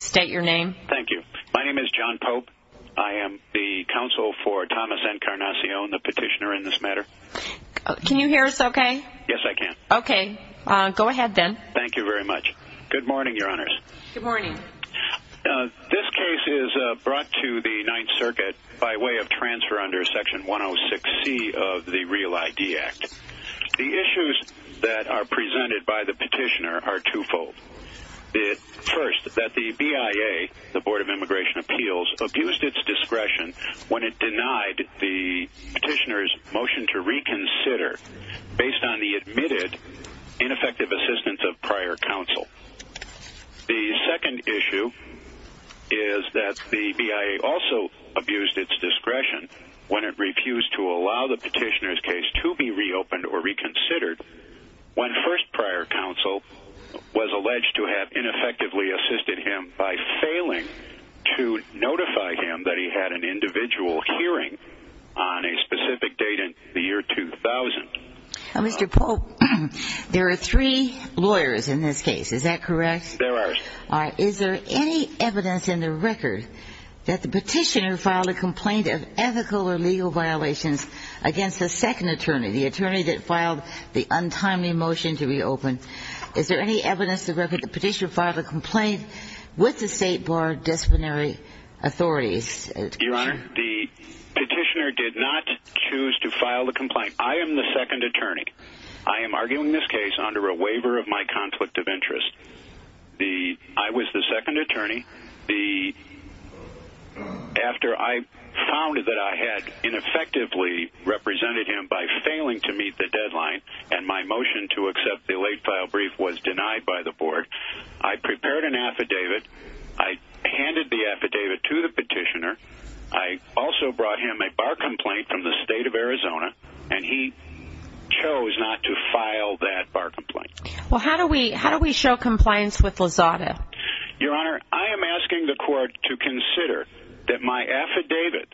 Thank you. My name is John Pope. I am the counsel for Thomas N. Carnacion, the petitioner in this matter. Can you hear us okay? Yes, I can. Okay. Go ahead, then. Thank you very much. Good morning, Your Honors. Good morning. This case is brought to the Ninth Circuit by way of transfer under Section 106C of the REAL ID Act. The issues that are presented by the petitioner are twofold. First, that the BIA, the Board of Immigration Appeals, abused its discretion when it denied the petitioner's motion to reconsider based on the admitted ineffective assistance of prior counsel. The second issue is that the BIA also abused its discretion when it refused to allow the petitioner's case to be reopened or reconsidered when first prior counsel was alleged to have ineffectively assisted him by failing to notify him that he had an individual hearing on a specific date in the year 2000. Mr. Pope, there are three lawyers in this case. Is that correct? There are. Is there any evidence in the record that the petitioner filed a complaint of ethical or legal violations against the second attorney, the attorney that filed the untimely motion to reopen? Is there any evidence in the record that the petitioner filed a complaint with the State Board of Disciplinary Authorities? Your Honor, the petitioner did not choose to file the complaint. I am the second attorney. I am arguing this case under a waiver of my conflict of interest. I was the second attorney. After I found that I had ineffectively represented him by failing to meet the deadline and my motion to accept the late-file brief was denied by the board, I prepared an affidavit. I handed the affidavit to the petitioner. I also brought him a bar complaint from the state of Arizona, and he chose not to file that bar complaint. Well, how do we show compliance with Lazada? Your Honor, I am asking the court to consider that my affidavit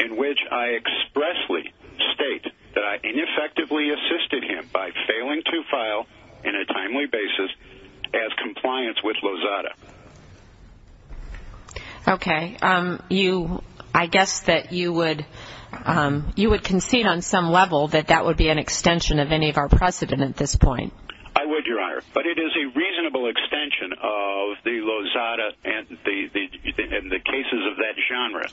in which I expressly state that I ineffectively assisted him by failing to file in a timely basis has compliance with Lazada. Okay. I guess that you would concede on some level that that would be an extension of any of our precedent at this point. I would, Your Honor, but it is a reasonable extension of the Lazada and the cases of that genre.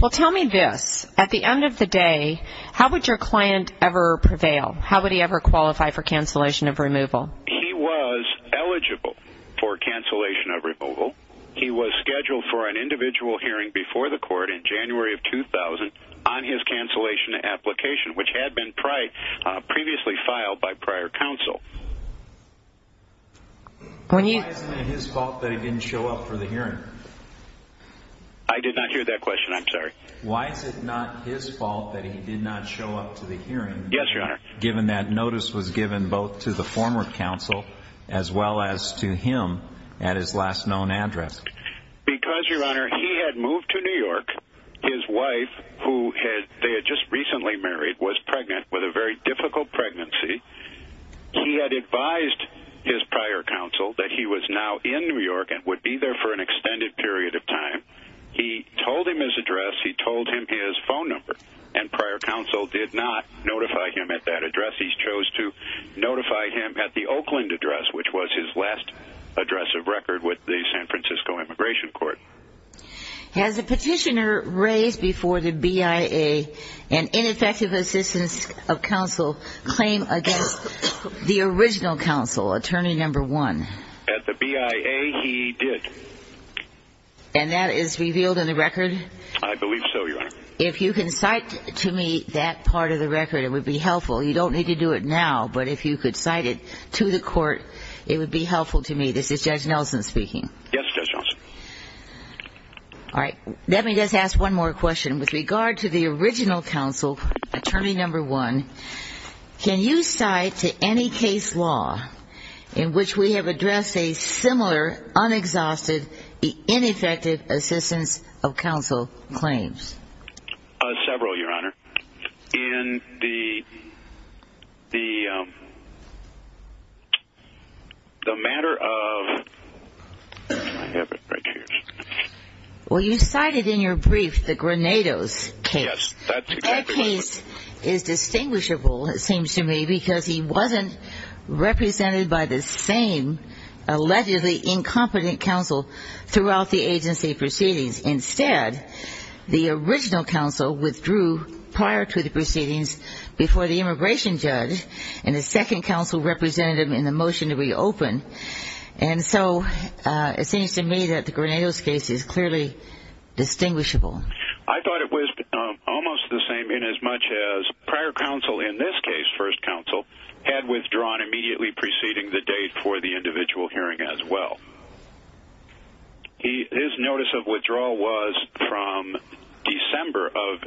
Well, tell me this. At the end of the day, how would your client ever prevail? How would he ever qualify for cancellation of removal? He was eligible for cancellation of removal. He was scheduled for an individual hearing before the court in January of 2000 on his cancellation application, which had been previously filed by prior counsel. Why is it not his fault that he didn't show up for the hearing? I did not hear that question. I'm sorry. Why is it not his fault that he did not show up to the hearing? Yes, Your Honor. Given that notice was given both to the former counsel as well as to him at his last known address. Because, Your Honor, he had moved to New York. His wife, who they had just recently married, was pregnant with a very difficult pregnancy. He had advised his prior counsel that he was now in New York and would be there for an extended period of time. He told him his address. He told him his phone number. And prior counsel did not notify him at that address. He chose to notify him at the Oakland address, which was his last address of record with the San Francisco Immigration Court. Has a petitioner raised before the BIA an ineffective assistance of counsel claim against the original counsel, attorney number one? At the BIA, he did. And that is revealed in the record? I believe so, Your Honor. If you can cite to me that part of the record, it would be helpful. You don't need to do it now, but if you could cite it to the court, it would be helpful to me. This is Judge Nelson speaking. Yes, Judge Johnson. All right. Let me just ask one more question. With regard to the original counsel, attorney number one, can you cite to any case law in which we have addressed a similar, unexhausted, ineffective assistance of counsel claims? Several, Your Honor. Well, you cited in your brief the Granados case. Yes, that's exactly right. That case is distinguishable, it seems to me, because he wasn't represented by the same allegedly incompetent counsel throughout the agency proceedings. Instead, the original counsel withdrew prior to the proceedings before the immigration judge and the second counsel represented him in the motion to reopen. And so it seems to me that the Granados case is clearly distinguishable. I thought it was almost the same inasmuch as prior counsel in this case, first counsel, had withdrawn immediately preceding the date for the individual hearing as well. His notice of withdrawal was from December of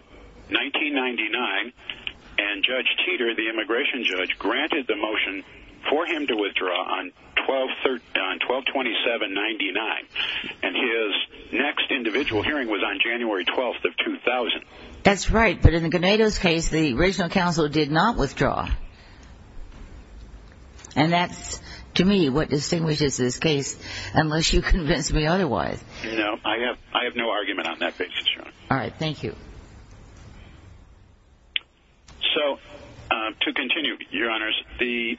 1999, and Judge Teeter, the immigration judge, granted the motion for him to withdraw on 12-27-99. And his next individual hearing was on January 12th of 2000. That's right, but in the Granados case, the original counsel did not withdraw. And that's, to me, what distinguishes this case, unless you convince me otherwise. No, I have no argument on that basis, Your Honor. All right, thank you. So, to continue, Your Honors, the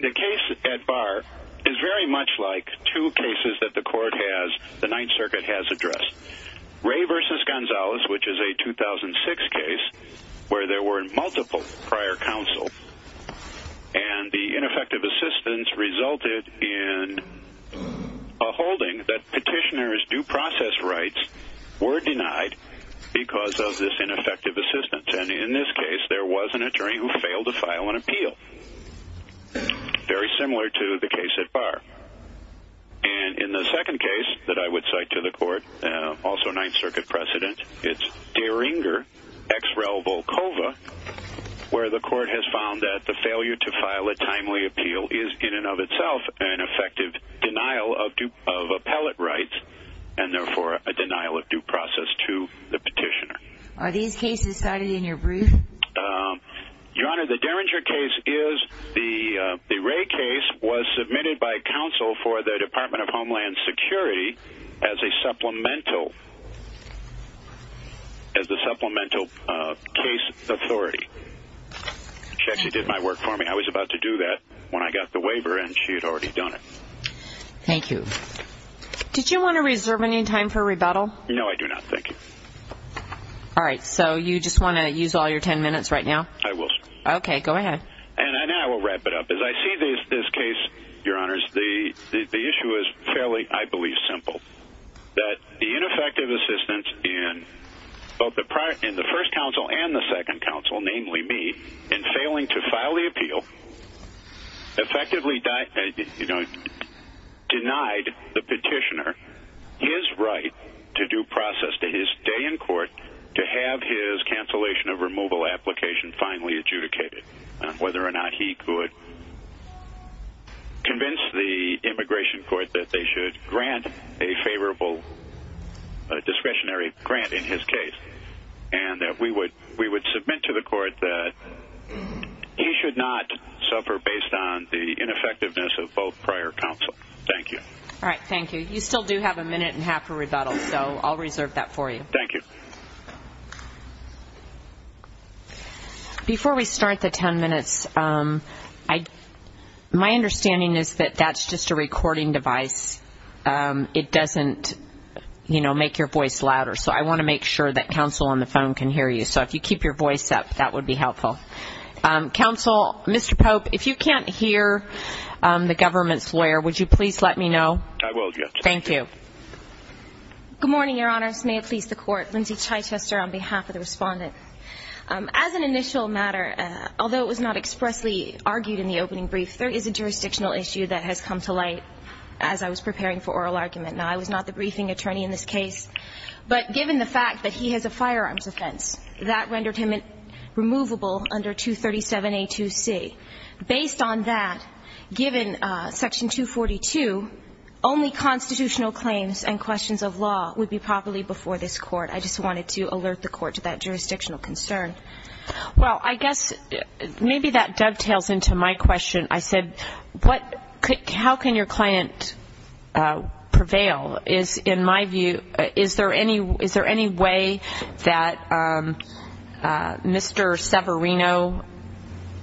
case at bar is very much like two cases that the court has, the Ninth Circuit has addressed. Ray v. Gonzalez, which is a 2006 case where there were multiple prior counsel, and the ineffective assistance resulted in a holding that petitioner's due process rights were denied because of this ineffective assistance. And in this case, there was an attorney who failed to file an appeal, very similar to the case at bar. And in the second case that I would cite to the court, also Ninth Circuit precedent, it's Derringer v. Volkova, where the court has found that the failure to file a timely appeal is, in and of itself, an effective denial of appellate rights and, therefore, a denial of due process to the petitioner. Are these cases cited in your brief? Your Honor, the Derringer case is the Ray case was submitted by counsel for the Department of Homeland Security as a supplemental case authority. She actually did my work for me. I was about to do that when I got the waiver, and she had already done it. Thank you. Did you want to reserve any time for rebuttal? No, I do not, thank you. All right, so you just want to use all your ten minutes right now? I will. Okay, go ahead. And then I will wrap it up. As I see this case, Your Honors, the issue is fairly, I believe, simple. That the ineffective assistance in both the first counsel and the second counsel, namely me, in failing to file the appeal effectively denied the petitioner his right to due process to his stay in court to have his cancellation of removal application finally adjudicated, whether or not he could convince the immigration court that they should grant a favorable discretionary grant in his case and that we would submit to the court that he should not suffer based on the ineffectiveness of both prior counsel. Thank you. All right, thank you. You still do have a minute and a half for rebuttal, so I'll reserve that for you. Thank you. Before we start the ten minutes, my understanding is that that's just a recording device. It doesn't, you know, make your voice louder. So I want to make sure that counsel on the phone can hear you. So if you keep your voice up, that would be helpful. Counsel, Mr. Pope, if you can't hear the government's lawyer, would you please let me know? I will, yes. Thank you. Good morning, Your Honors. May it please the Court. Lindsay Chichester on behalf of the respondent. As an initial matter, although it was not expressly argued in the opening brief, there is a jurisdictional issue that has come to light as I was preparing for oral argument. Now, I was not the briefing attorney in this case, but given the fact that he has a firearms offense, that rendered him removable under 237A2C. Based on that, given Section 242, only constitutional claims and questions of law would be properly before this Court. I just wanted to alert the Court to that jurisdictional concern. Well, I guess maybe that dovetails into my question. I said, how can your client prevail? In my view, is there any way that Mr. Severino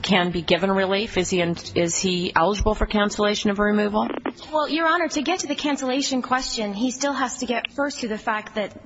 can be given relief? Is he eligible for cancellation of removal? Well, Your Honor, to get to the cancellation question, he still has to get first to the fact that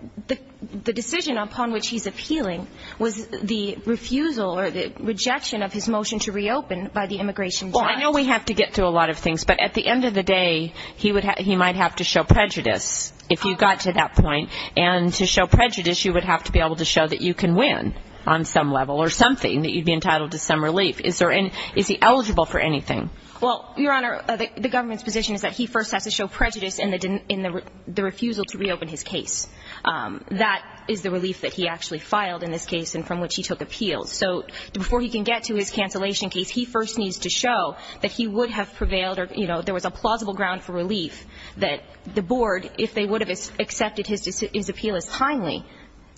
the decision upon which he's appealing was the refusal or the rejection of his motion to reopen by the immigration judge. Well, I know we have to get through a lot of things. But at the end of the day, he might have to show prejudice if you got to that point. And to show prejudice, you would have to be able to show that you can win on some level or something, that you'd be entitled to some relief. Is he eligible for anything? Well, Your Honor, the government's position is that he first has to show prejudice in the refusal to reopen his case. That is the relief that he actually filed in this case and from which he took appeals. So before he can get to his cancellation case, he first needs to show that he would have prevailed or, you know, there was a plausible ground for relief that the board, if they would have accepted his appeal as timely,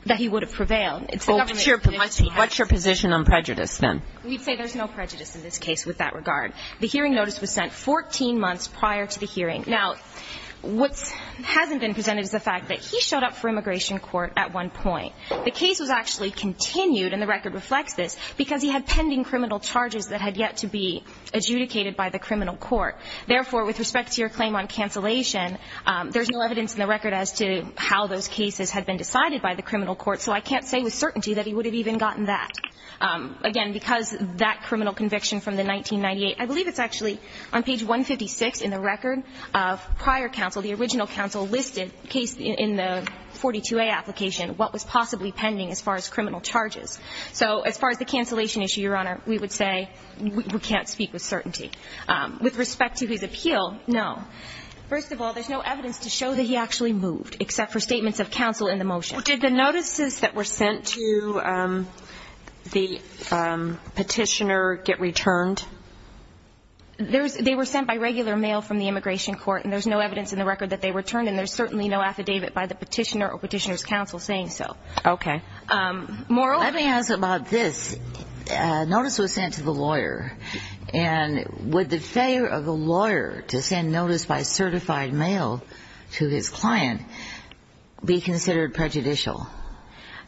that he would have prevailed. It's the government's position. What's your position on prejudice, then? We'd say there's no prejudice in this case with that regard. The hearing notice was sent 14 months prior to the hearing. Now, what hasn't been presented is the fact that he showed up for immigration court at one point. The case was actually continued, and the record reflects this, because he had pending criminal charges that had yet to be adjudicated by the criminal court. Therefore, with respect to your claim on cancellation, there's no evidence in the record as to how those cases had been decided by the criminal court, so I can't say with certainty that he would have even gotten that. Again, because that criminal conviction from the 1998, I believe it's actually on page 156 in the record of prior counsel. The original counsel listed in the 42A application what was possibly pending as far as criminal charges. So as far as the cancellation issue, Your Honor, we would say we can't speak with certainty. With respect to his appeal, no. First of all, there's no evidence to show that he actually moved, except for statements of counsel in the motion. Did the notices that were sent to the petitioner get returned? They were sent by regular mail from the immigration court, and there's no evidence in the record that they returned, and there's certainly no affidavit by the petitioner or petitioner's counsel saying so. Okay. Let me ask about this. A notice was sent to the lawyer, and would the failure of a lawyer to send notice by certified mail to his client be considered prejudicial?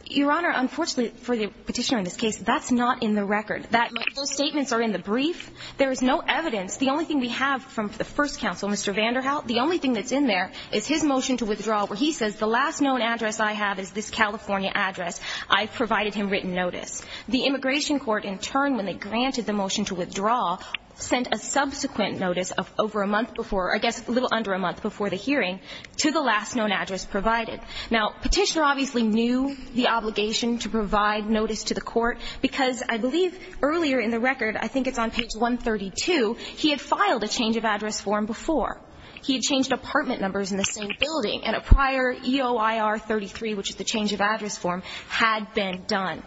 Your Honor, unfortunately for the petitioner in this case, that's not in the record. Those statements are in the brief. There is no evidence. The only thing we have from the first counsel, Mr. Vanderhout, the only thing that's in there is his motion to withdraw where he says, the last known address I have is this California address. I provided him written notice. The immigration court in turn, when they granted the motion to withdraw, sent a subsequent notice of over a month before, I guess a little under a month before the hearing, to the last known address provided. Now, Petitioner obviously knew the obligation to provide notice to the court, because I believe earlier in the record, I think it's on page 132, he had filed a change of address form before. He had changed apartment numbers in the same building, and a prior EOIR-33, which is the change of address form, had been done.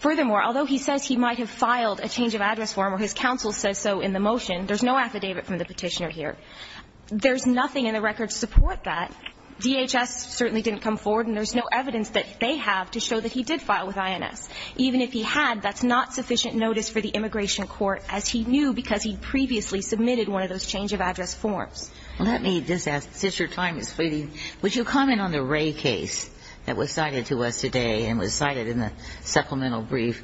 Furthermore, although he says he might have filed a change of address form or his counsel said so in the motion, there's no affidavit from the petitioner here. There's nothing in the record to support that. DHS certainly didn't come forward, and there's no evidence that they have to show that he did file with INS. Even if he had, that's not sufficient notice for the immigration court, as he knew because he'd previously submitted one of those change of address forms. Ginsburg. Well, let me just ask, since your time is fleeting, would you comment on the Ray case that was cited to us today and was cited in the supplemental brief,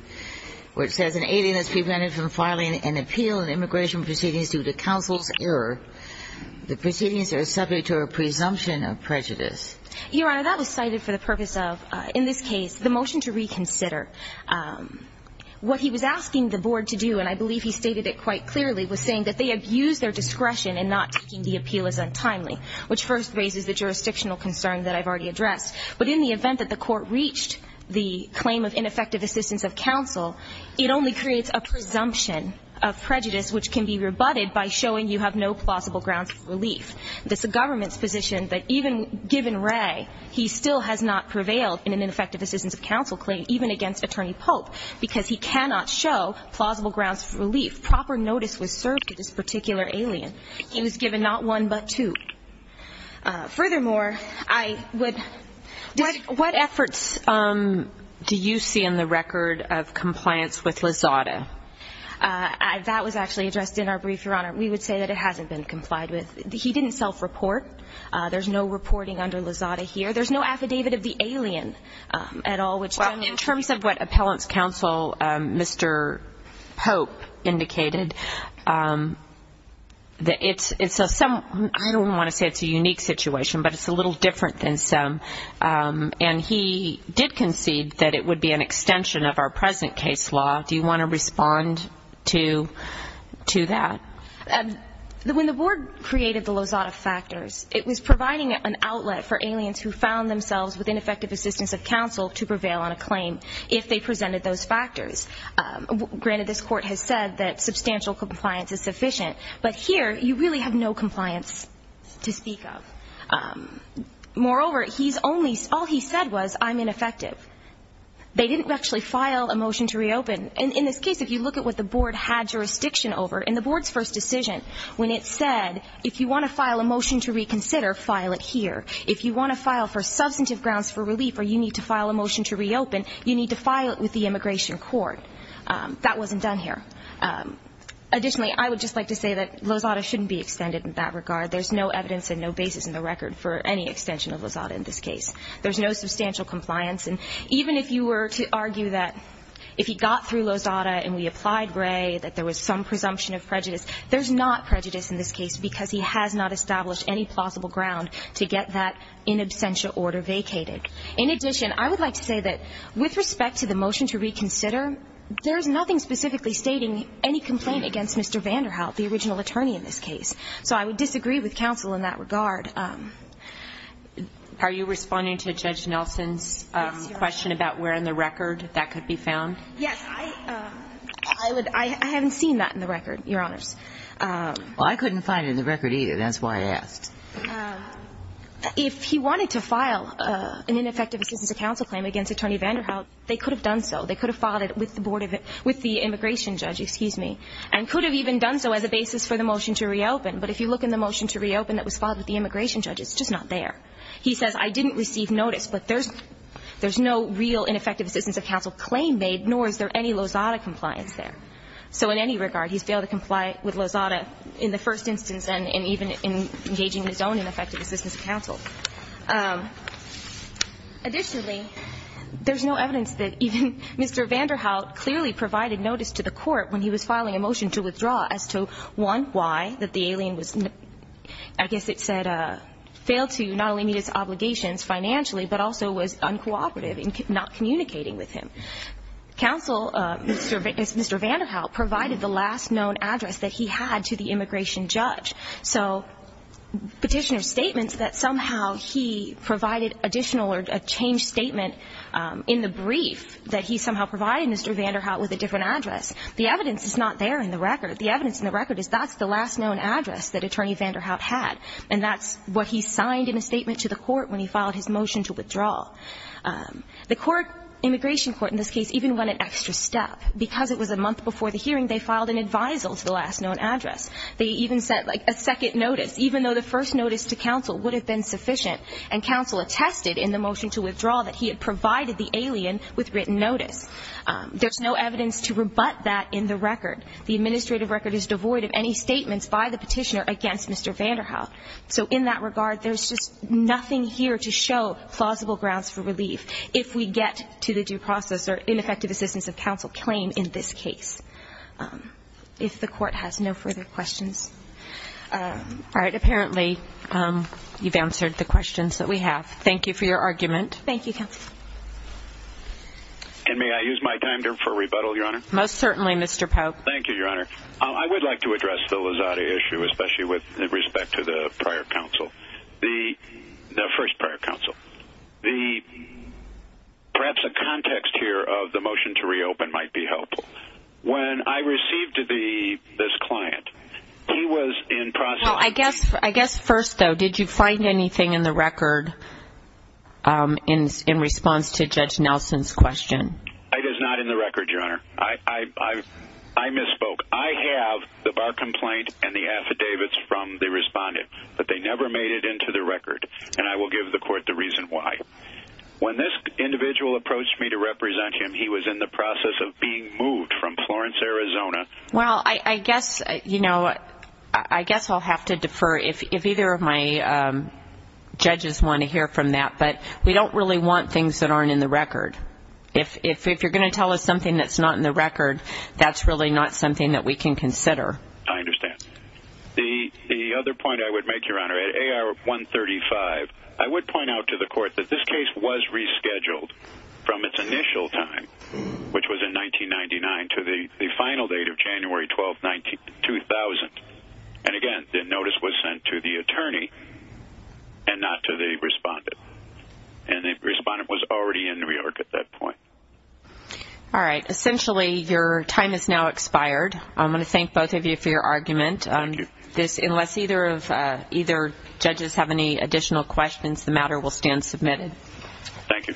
where it says an alien has prevented from filing an appeal in immigration proceedings due to counsel's error. The proceedings are subject to a presumption of prejudice. Your Honor, that was cited for the purpose of, in this case, the motion to reconsider. What he was asking the board to do, and I believe he stated it quite clearly, was saying that they abused their discretion in not taking the appeal as untimely, which first raises the jurisdictional concern that I've already addressed. But in the event that the court reached the claim of ineffective assistance of counsel, it only creates a presumption of prejudice which can be rebutted by showing you have no plausible grounds of relief. That's the government's position that even given Ray, he still has not prevailed in an ineffective assistance of counsel claim, even against Attorney Pope, because he cannot show plausible grounds of relief. Proper notice was served to this particular alien. He was given not one, but two. Furthermore, I would just... What efforts do you see in the record of compliance with Lozada? That was actually addressed in our brief, Your Honor. We would say that it hasn't been complied with. He didn't self-report. There's no reporting under Lozada here. There's no affidavit of the alien at all, which... In terms of what Appellant's counsel, Mr. Pope, indicated, it's a some... I don't want to say it's a unique situation, but it's a little different than some. And he did concede that it would be an extension of our present case law. Do you want to respond to that? When the board created the Lozada factors, it was providing an outlet for aliens who found themselves with ineffective assistance of counsel to prevail on a claim, if they presented those factors. Granted, this Court has said that substantial compliance is sufficient. But here, you really have no compliance to speak of. Moreover, all he said was, I'm ineffective. They didn't actually file a motion to reopen. In this case, if you look at what the board had jurisdiction over, in the board's first decision, when it said, if you want to file a motion to reconsider, file it here. If you want to file for substantive grounds for relief, or you need to file a motion to reopen, you need to file it with the Immigration Court. That wasn't done here. Additionally, I would just like to say that Lozada shouldn't be extended in that regard. There's no evidence and no basis in the record for any extension of Lozada in this case. There's no substantial compliance. And even if you were to argue that if he got through Lozada and we applied Gray, that there was some presumption of prejudice, there's not prejudice in this case, because he has not established any plausible ground to get that in absentia order vacated. In addition, I would like to say that with respect to the motion to reconsider, there is nothing specifically stating any complaint against Mr. Vanderhout, the original attorney in this case. So I would disagree with counsel in that regard. Are you responding to Judge Nelson's question about where in the record that could be found? Yes. I haven't seen that in the record, Your Honors. Well, I couldn't find it in the record either. That's why I asked. If he wanted to file an ineffective assistance of counsel claim against Attorney Vanderhout, they could have done so. They could have filed it with the immigration judge, excuse me, and could have even done so as a basis for the motion to reopen. But if you look in the motion to reopen that was filed with the immigration judge, it's just not there. He says, I didn't receive notice, but there's no real ineffective assistance of counsel claim made, nor is there any Lozada compliance there. So in any regard, he's failed to comply with Lozada in the first instance and even in engaging in his own ineffective assistance of counsel. Additionally, there's no evidence that even Mr. Vanderhout clearly provided notice to the court when he was filing a motion to withdraw as to, one, why, that the alien was, I guess it said, failed to not only meet its obligations financially, but also was uncooperative in not communicating with him. Counsel, Mr. Vanderhout, provided the last known address that he had to the immigration judge. So Petitioner's statement that somehow he provided additional or a changed statement in the brief that he somehow provided Mr. Vanderhout with a different address, the evidence is not there in the record. The evidence in the record is that's the last known address that Attorney Vanderhout had, and that's what he signed in a statement to the court when he filed his motion to withdraw. The court, immigration court in this case, even went an extra step. Because it was a month before the hearing, they filed an advisal to the last known address. They even sent, like, a second notice, even though the first notice to counsel would have been sufficient. And counsel attested in the motion to withdraw that he had provided the alien with written notice. There's no evidence to rebut that in the record. The administrative record is devoid of any statements by the Petitioner against Mr. Vanderhout. So in that regard, there's just nothing here to show plausible grounds for relief if we get to the due process or ineffective assistance of counsel claim in this case. If the court has no further questions. All right. Apparently you've answered the questions that we have. Thank you for your argument. Thank you, counsel. And may I use my time for rebuttal, Your Honor? Most certainly, Mr. Pope. Thank you, Your Honor. I would like to address the Lozada issue, especially with respect to the prior counsel, the first prior counsel. Perhaps a context here of the motion to reopen might be helpful. When I received this client, he was in process of Well, I guess first, though, did you find anything in the record in response to Judge Nelson's question? It is not in the record, Your Honor. I misspoke. I have the bar complaint and the affidavits from the respondent. But they never made it into the record. And I will give the court the reason why. When this individual approached me to represent him, he was in the process of being moved from Florence, Arizona. Well, I guess, you know, I guess I'll have to defer if either of my judges want to hear from that. But we don't really want things that aren't in the record. If you're going to tell us something that's not in the record, that's really not something that we can consider. I understand. The other point I would make, Your Honor, at AR 135, I would point out to the court that this case was rescheduled from its initial time, which was in 1999, to the final date of January 12, 2000. And, again, the notice was sent to the attorney and not to the respondent. And the respondent was already in New York at that point. All right. Essentially, your time has now expired. I'm going to thank both of you for your argument. Thank you. Unless either judges have any additional questions, the matter will stand submitted. Thank you.